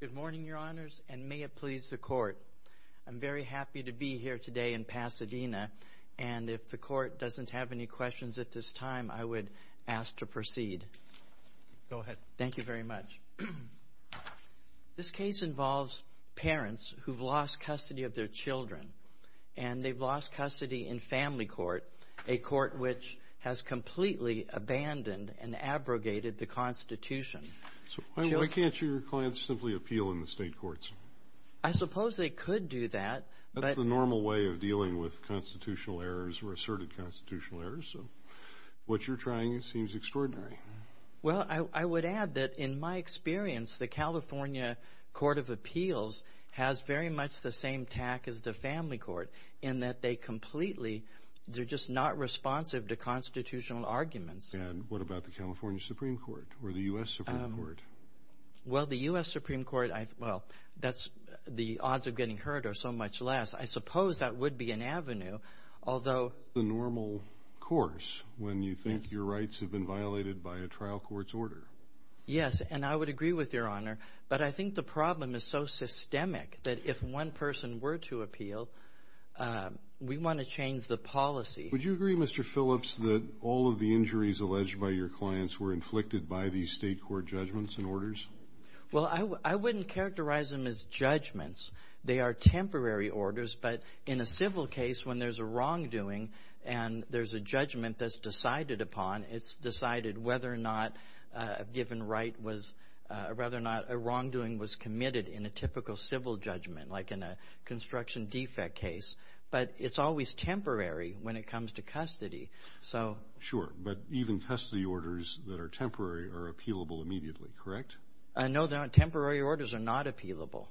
Good morning, Your Honors, and may it please the Court, I'm very happy to be here today in Pasadena, and if the Court doesn't have any questions at this time, I would ask to proceed. Go ahead. Thank you very much. This case involves parents who've lost custody of their children, and they've lost custody in family court, a court which has completely abandoned and abrogated the Constitution. Why can't your clients simply appeal in the state courts? I suppose they could do that. That's the normal way of dealing with constitutional errors or asserted constitutional errors, so what you're trying seems extraordinary. Well, I would add that in my experience, the California Court of Appeals has very much the same tack as the family court in that they completely – they're just not responsive to constitutional arguments. And what about the California Supreme Court or the U.S. Supreme Court? Well, the U.S. Supreme Court – well, that's – the odds of getting hurt are so much less. I suppose that would be an avenue, although – That's the normal course when you think your rights have been violated by a trial court's order. Yes, and I would agree with Your Honor, but I think the problem is so systemic that if one person were to appeal, we want to change the policy. Would you agree, Mr. Phillips, that all of the injuries alleged by your clients were inflicted by these state court judgments and orders? Well, I wouldn't characterize them as judgments. They are temporary orders. But in a civil case, when there's a wrongdoing and there's a judgment that's decided upon, it's decided whether or not a given right was – rather not a wrongdoing was committed in a typical civil judgment, like in a construction defect case. But it's always temporary when it comes to custody. So – Sure. But even custody orders that are temporary are appealable immediately, correct? No. Temporary orders are not appealable.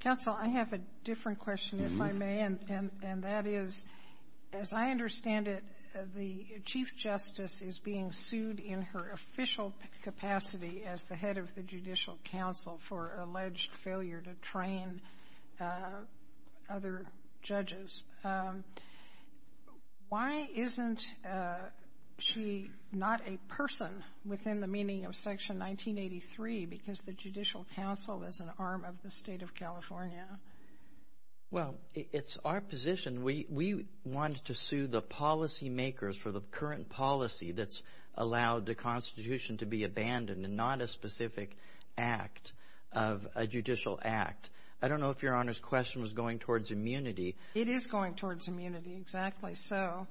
Counsel, I have a different question, if I may. And that is, as I understand it, the Chief Justice is being sued in her official capacity as the head of the Judicial Council for alleged failure to train other judges. Why isn't she not a person within the meaning of Section 1983 because the Judicial Council is an arm of the state of California? Well, it's our position. We want to sue the policymakers for the current policy that's allowed the Constitution to be abandoned and not a specific act of a judicial act. I don't know if Your Honor's question was going towards immunity. It is going towards immunity, exactly. So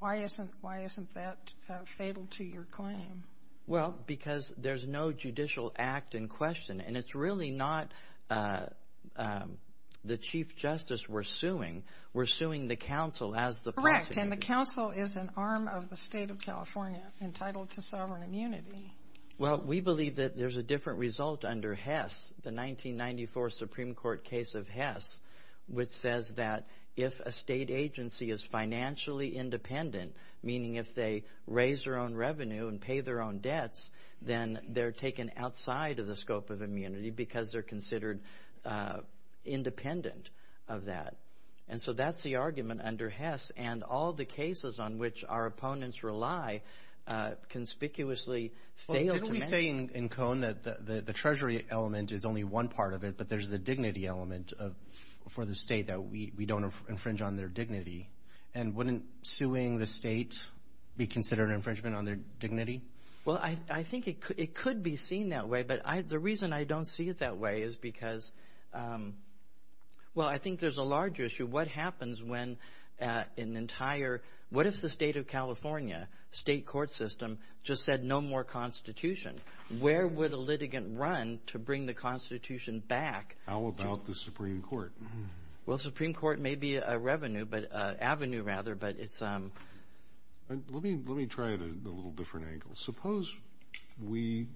why isn't that fatal to your claim? Well, because there's no judicial act in question. And it's really not the Chief Justice we're suing. We're suing the counsel as the party. Correct. And the counsel is an arm of the state of California entitled to sovereign immunity. Well, we believe that there's a different result under Hess, the 1994 Supreme Court case of Hess, which says that if a state agency is financially independent, meaning if they raise their own revenue and pay their own debts, then they're taken outside of the scope of immunity because they're considered independent of that. And so that's the argument under Hess. And all the cases on which our opponents rely conspicuously fail to match. Well, didn't we say in Cone that the Treasury element is only one part of it, but there's the dignity element for the state that we don't infringe on their dignity? And wouldn't suing the state be considered an infringement on their dignity? Well, I think it could be seen that way. But the reason I don't see it that way is because, well, I think there's a larger issue. What happens when an entire, what if the state of California, state court system, just said no more Constitution? Where would a litigant run to bring the Constitution back? How about the Supreme Court? Well, the Supreme Court may be a avenue, but it's... Let me try it at a little different angle. Suppose we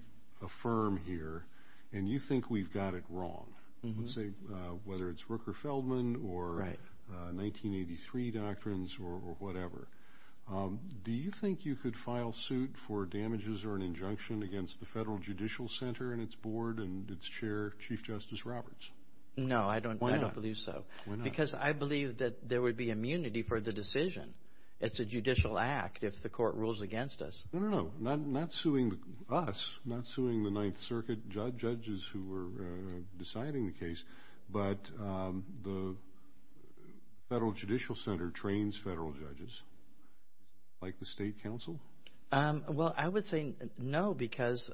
affirm here and you think we've got it wrong, whether it's Rooker-Feldman or 1983 doctrines or whatever. Do you think you could file suit for damages or an injunction against the Federal Judicial Center and its board and its chair, Chief Justice Roberts? No, I don't believe so. Because I believe that there would be immunity for the decision. It's a judicial act if the court rules against us. No, no, no. Not suing us, not suing the Ninth Circuit judges who were deciding the case, but the Federal Judicial Center trains federal judges like the State Council? Well, I would say no because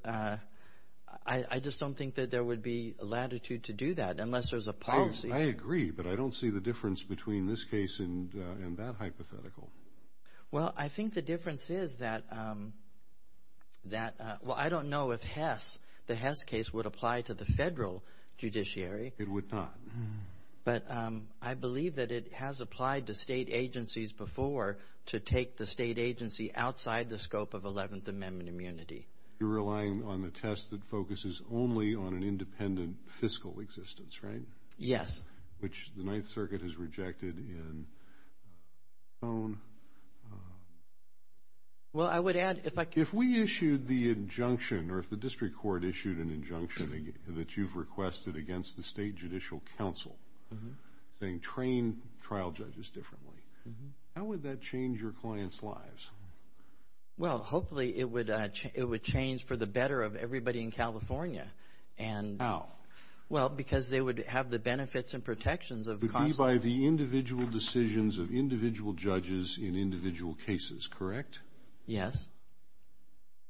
I just don't think that there would be latitude to do that unless there's a policy. I agree, but I don't see the difference between this case and that hypothetical. Well, I think the difference is that... Well, I don't know if Hess, the Hess case, would apply to the federal judiciary. It would not. But I believe that it has applied to state agencies before to take the state agency outside the scope of Eleventh Amendment immunity. You're relying on the test that focuses only on an independent fiscal existence, right? Yes. Which the Ninth Circuit has rejected in its own... Well, I would add if I could... If we issued the injunction or if the district court issued an injunction that you've requested against the State Judicial Council, saying train trial judges differently, how would that change your clients' lives? Well, hopefully it would change for the better of everybody in California. How? Well, because they would have the benefits and protections of... It would be by the individual decisions of individual judges in individual cases, correct? Yes.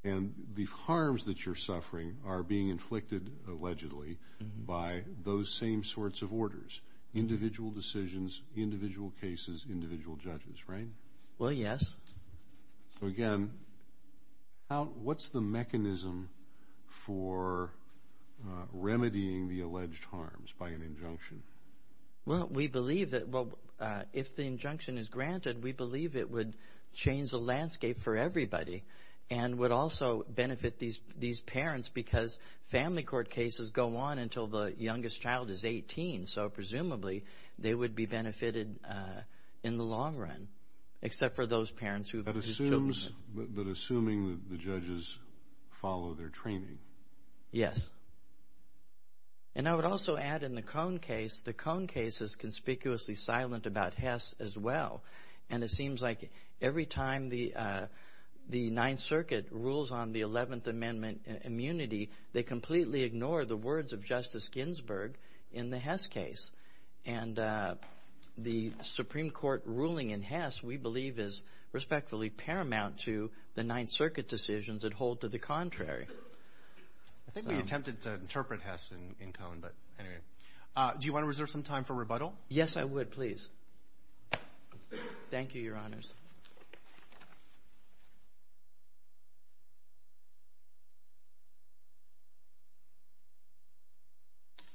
And the harms that you're suffering are being inflicted allegedly by those same sorts of orders, individual decisions, individual cases, individual judges, right? Well, yes. Again, what's the mechanism for remedying the alleged harms by an injunction? Well, we believe that if the injunction is granted, we believe it would change the landscape for everybody and would also benefit these parents because family court cases go on until the youngest child is 18. So, presumably, they would be benefited in the long run except for those parents whose children... But assuming that the judges follow their training. Yes. And I would also add in the Cone case, the Cone case is conspicuously silent about Hess as well, and it seems like every time the Ninth Circuit rules on the Eleventh Amendment immunity, they completely ignore the words of Justice Ginsburg in the Hess case. And the Supreme Court ruling in Hess, we believe, is respectfully paramount to the Ninth Circuit decisions that hold to the contrary. I think we attempted to interpret Hess in Cone, but anyway. Do you want to reserve some time for rebuttal? Yes, I would, please. Thank you, Your Honors.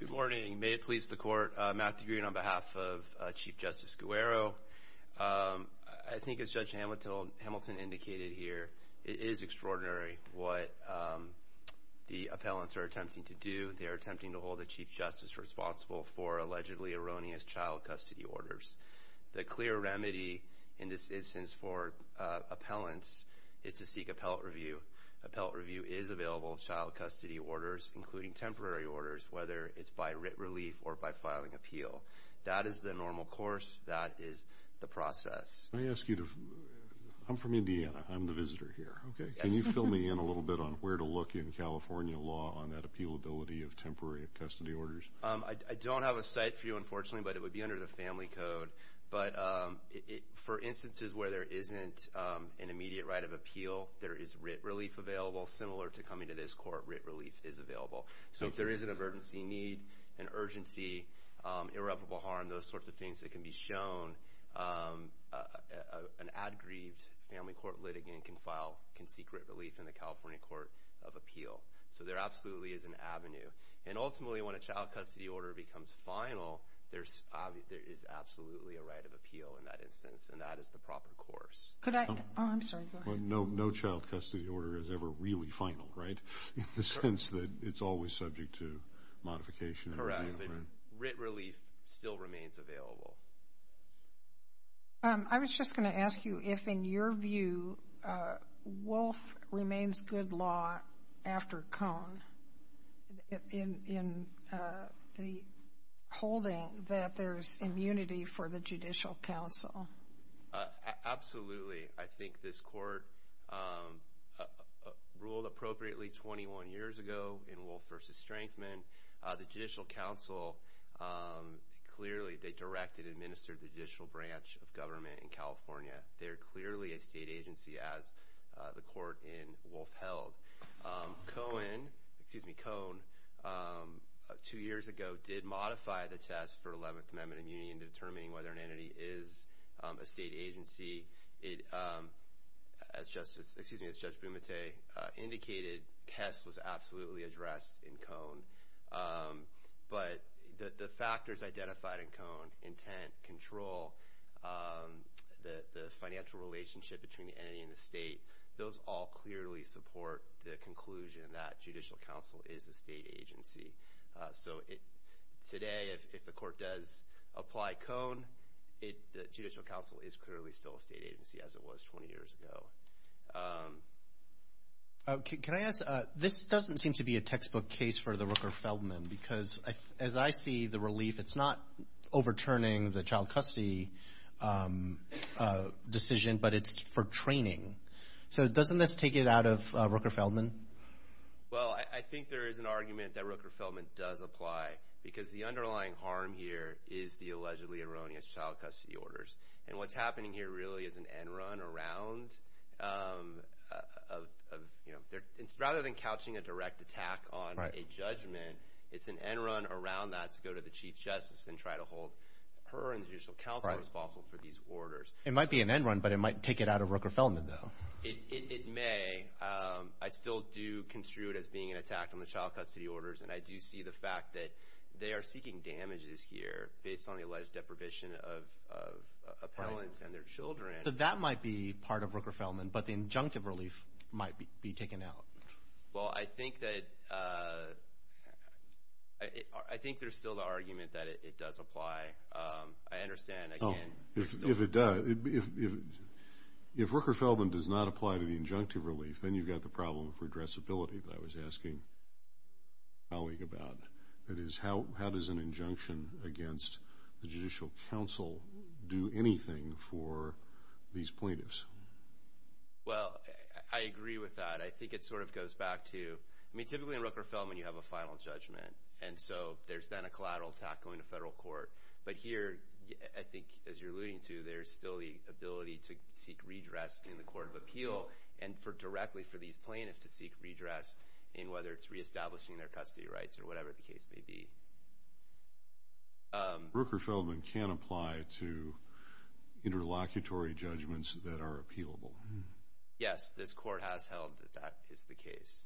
Good morning. May it please the Court, Matthew Green on behalf of Chief Justice Guerrero. I think as Judge Hamilton indicated here, it is extraordinary what the appellants are attempting to do. They are attempting to hold the Chief Justice responsible for allegedly erroneous child custody orders. The clear remedy in this instance for appellants is to seek appellate review. Appellate review is available in child custody orders, including temporary orders, whether it's by writ relief or by filing appeal. That is the normal course. That is the process. I'm from Indiana. I'm the visitor here. Can you fill me in a little bit on where to look in California law on that appealability of temporary custody orders? I don't have a site for you, unfortunately, but it would be under the Family Code. But for instances where there isn't an immediate right of appeal, there is writ relief available, similar to coming to this court, writ relief is available. So if there is an emergency need, an urgency, irreparable harm, those sorts of things that can be shown, an aggrieved family court litigant can file, can seek writ relief in the California Court of Appeal. So there absolutely is an avenue. And ultimately, when a child custody order becomes final, there is absolutely a right of appeal in that instance, and that is the proper course. Oh, I'm sorry. Go ahead. No child custody order is ever really final, right, in the sense that it's always subject to modification. But writ relief still remains available. I was just going to ask you if, in your view, Wolf remains good law after Cone, in the holding that there's immunity for the Judicial Council. Absolutely. I think this court ruled appropriately 21 years ago in Wolf v. Strengthman. The Judicial Council clearly, they directed and administered the judicial branch of government in California. They are clearly a state agency, as the court in Wolf held. Cone, two years ago, did modify the test for 11th Amendment immunity in determining whether an entity is a state agency. As Judge Bumate indicated, test was absolutely addressed in Cone. But the factors identified in Cone, intent, control, the financial relationship between the entity and the state, those all clearly support the conclusion that Judicial Council is a state agency. So today, if the court does apply Cone, the Judicial Council is clearly still a state agency, as it was 20 years ago. Can I ask, this doesn't seem to be a textbook case for the Rooker-Feldman, because as I see the relief, it's not overturning the child custody decision, but it's for training. So doesn't this take it out of Rooker-Feldman? Well, I think there is an argument that Rooker-Feldman does apply, because the underlying harm here is the allegedly erroneous child custody orders. And what's happening here really is an end run around, rather than couching a direct attack on a judgment, it's an end run around that to go to the Chief Justice and try to hold her and the Judicial Council responsible for these orders. It might be an end run, but it might take it out of Rooker-Feldman, though. It may. I still do construe it as being an attack on the child custody orders, and I do see the fact that they are seeking damages here based on the alleged deprivation of appellants and their children. So that might be part of Rooker-Feldman, but the injunctive relief might be taken out. Well, I think that there's still the argument that it does apply. I understand. If it does, if Rooker-Feldman does not apply to the injunctive relief, then you've got the problem of redressability that I was asking a colleague about. That is, how does an injunction against the Judicial Council do anything for these plaintiffs? Well, I agree with that. I think it sort of goes back to, I mean, typically in Rooker-Feldman you have a final judgment, and so there's then a collateral attack going to federal court. But here, I think, as you're alluding to, there's still the ability to seek redress in the court of appeal and directly for these plaintiffs to seek redress in whether it's reestablishing their custody rights or whatever the case may be. Rooker-Feldman can apply to interlocutory judgments that are appealable. Yes, this court has held that that is the case.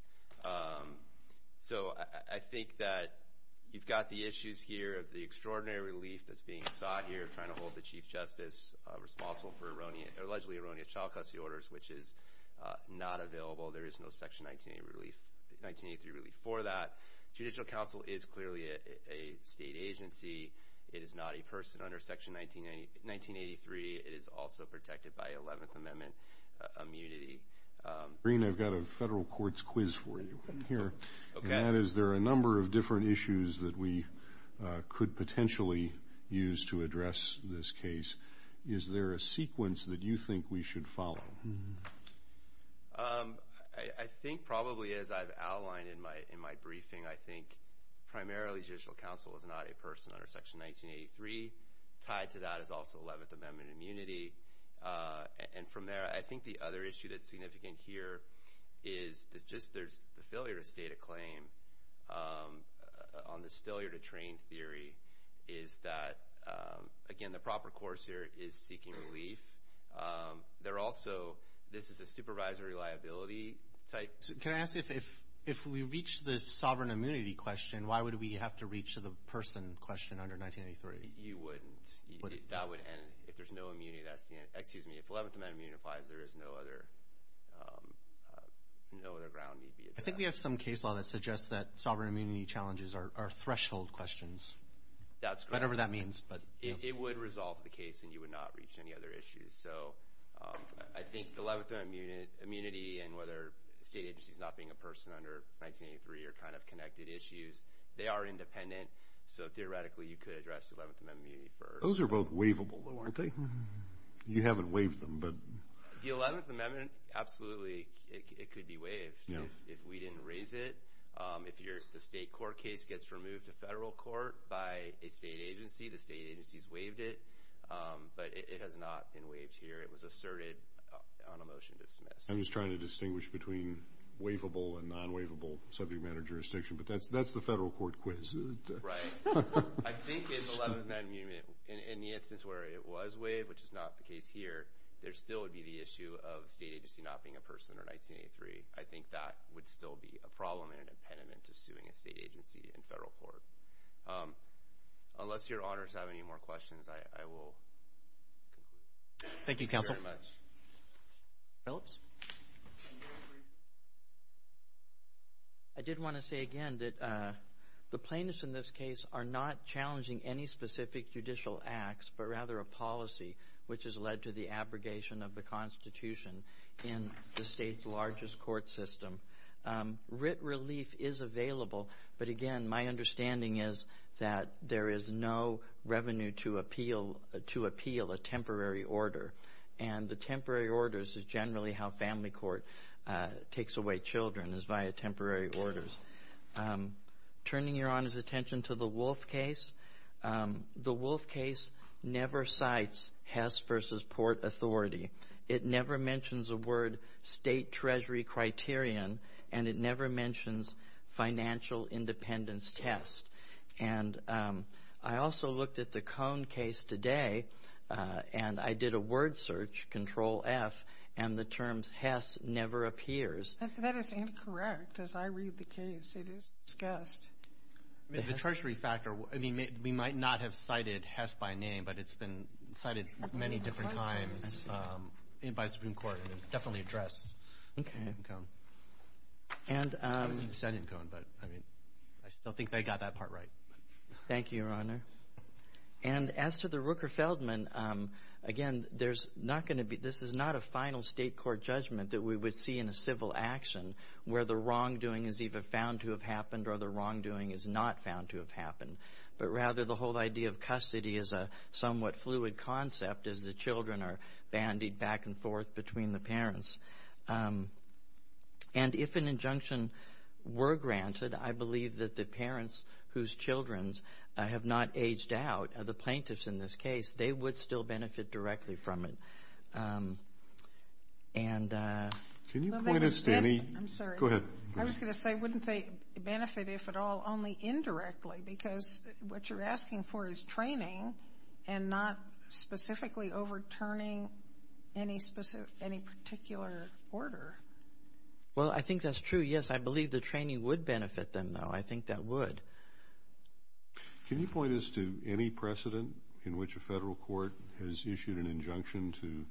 So I think that you've got the issues here of the extraordinary relief that's being sought here, trying to hold the Chief Justice responsible for allegedly erroneous child custody orders, which is not available. There is no Section 1983 relief for that. Judicial Council is clearly a state agency. It is not a person under Section 1983. It is also protected by Eleventh Amendment immunity. Green, I've got a federal court's quiz for you here, and that is there are a number of different issues that we could potentially use to address this case. Is there a sequence that you think we should follow? I think probably, as I've outlined in my briefing, I think primarily Judicial Council is not a person under Section 1983. Tied to that is also Eleventh Amendment immunity. And from there, I think the other issue that's significant here is just the failure to state a claim on this failure-to-train theory is that, again, the proper course here is seeking relief. There are also, this is a supervisory liability type. Can I ask, if we reach the sovereign immunity question, why would we have to reach the person question under 1983? You wouldn't. If there's no immunity, that's the end. Excuse me, if Eleventh Amendment immunity applies, there is no other ground we'd be addressing. I think we have some case law that suggests that sovereign immunity challenges are threshold questions. That's correct. Whatever that means. It would resolve the case, and you would not reach any other issues. So I think the Eleventh Amendment immunity and whether a state agency is not being a person under 1983 are kind of connected issues. They are independent. So theoretically, you could address Eleventh Amendment immunity for- Those are both waivable, though, aren't they? You haven't waived them, but- The Eleventh Amendment, absolutely, it could be waived if we didn't raise it. If the state court case gets removed to federal court by a state agency, the state agency's waived it. But it has not been waived here. It was asserted on a motion dismissed. I'm just trying to distinguish between waivable and non-waivable subject matter jurisdiction. But that's the federal court quiz. Right. I think in the Eleventh Amendment, in the instance where it was waived, which is not the case here, there still would be the issue of a state agency not being a person under 1983. I think that would still be a problem and an impediment to suing a state agency in federal court. Unless your honors have any more questions, I will conclude. Thank you, Counsel. Thank you very much. Phillips? I did want to say, again, that the plaintiffs in this case are not challenging any specific judicial acts, but rather a policy which has led to the abrogation of the Constitution in the state's largest court system. Writ relief is available, but, again, my understanding is that there is no revenue to appeal a temporary order. And the temporary orders is generally how family court takes away children, is via temporary orders. Turning your honors' attention to the Wolfe case, the Wolfe case never cites Hess v. Port Authority. It never mentions a word state treasury criterion, and it never mentions financial independence test. And I also looked at the Cone case today, and I did a word search, Control-F, and the term Hess never appears. That is incorrect. As I read the case, it is discussed. The treasury factor, I mean, we might not have cited Hess by name, but it's been cited many different times by the Supreme Court, and it's definitely addressed in Cone. I wasn't excited in Cone, but, I mean, I still think they got that part right. Thank you, Your Honor. And as to the Rooker-Feldman, again, there's not going to be – this is not a final state court judgment that we would see in a civil action where the wrongdoing is either found to have happened or the wrongdoing is not found to have happened, but rather the whole idea of custody is a somewhat fluid concept as the children are bandied back and forth between the parents. And if an injunction were granted, I believe that the parents whose children have not aged out, the plaintiffs in this case, they would still benefit directly from it. Can you point us, Fannie? I'm sorry. Go ahead. I was going to say, wouldn't they benefit, if at all, only indirectly? Because what you're asking for is training and not specifically overturning any particular order. Well, I think that's true, yes. I believe the training would benefit them, though. I think that would. Can you point us to any precedent in which a federal court has issued an injunction to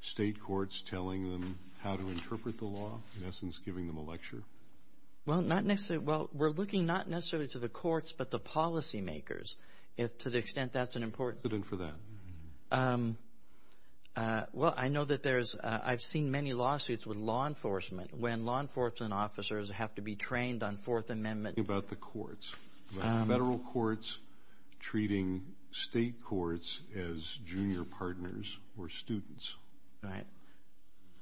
state courts telling them how to interpret the law, in essence giving them a lecture? Well, not necessarily. Well, we're looking not necessarily to the courts, but the policy makers, to the extent that's an important. Precedent for that. Well, I know that there's, I've seen many lawsuits with law enforcement when law enforcement officers have to be trained on Fourth Amendment. Talking about the courts. Federal courts treating state courts as junior partners or students. Right.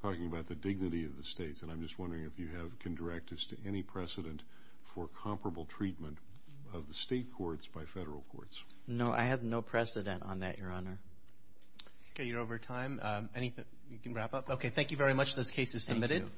Talking about the dignity of the states. And I'm just wondering if you have directives to any precedent for comparable treatment of the state courts by federal courts. No, I have no precedent on that, Your Honor. Okay, you're over time. You can wrap up. Okay, thank you very much. This case is submitted. Thank you.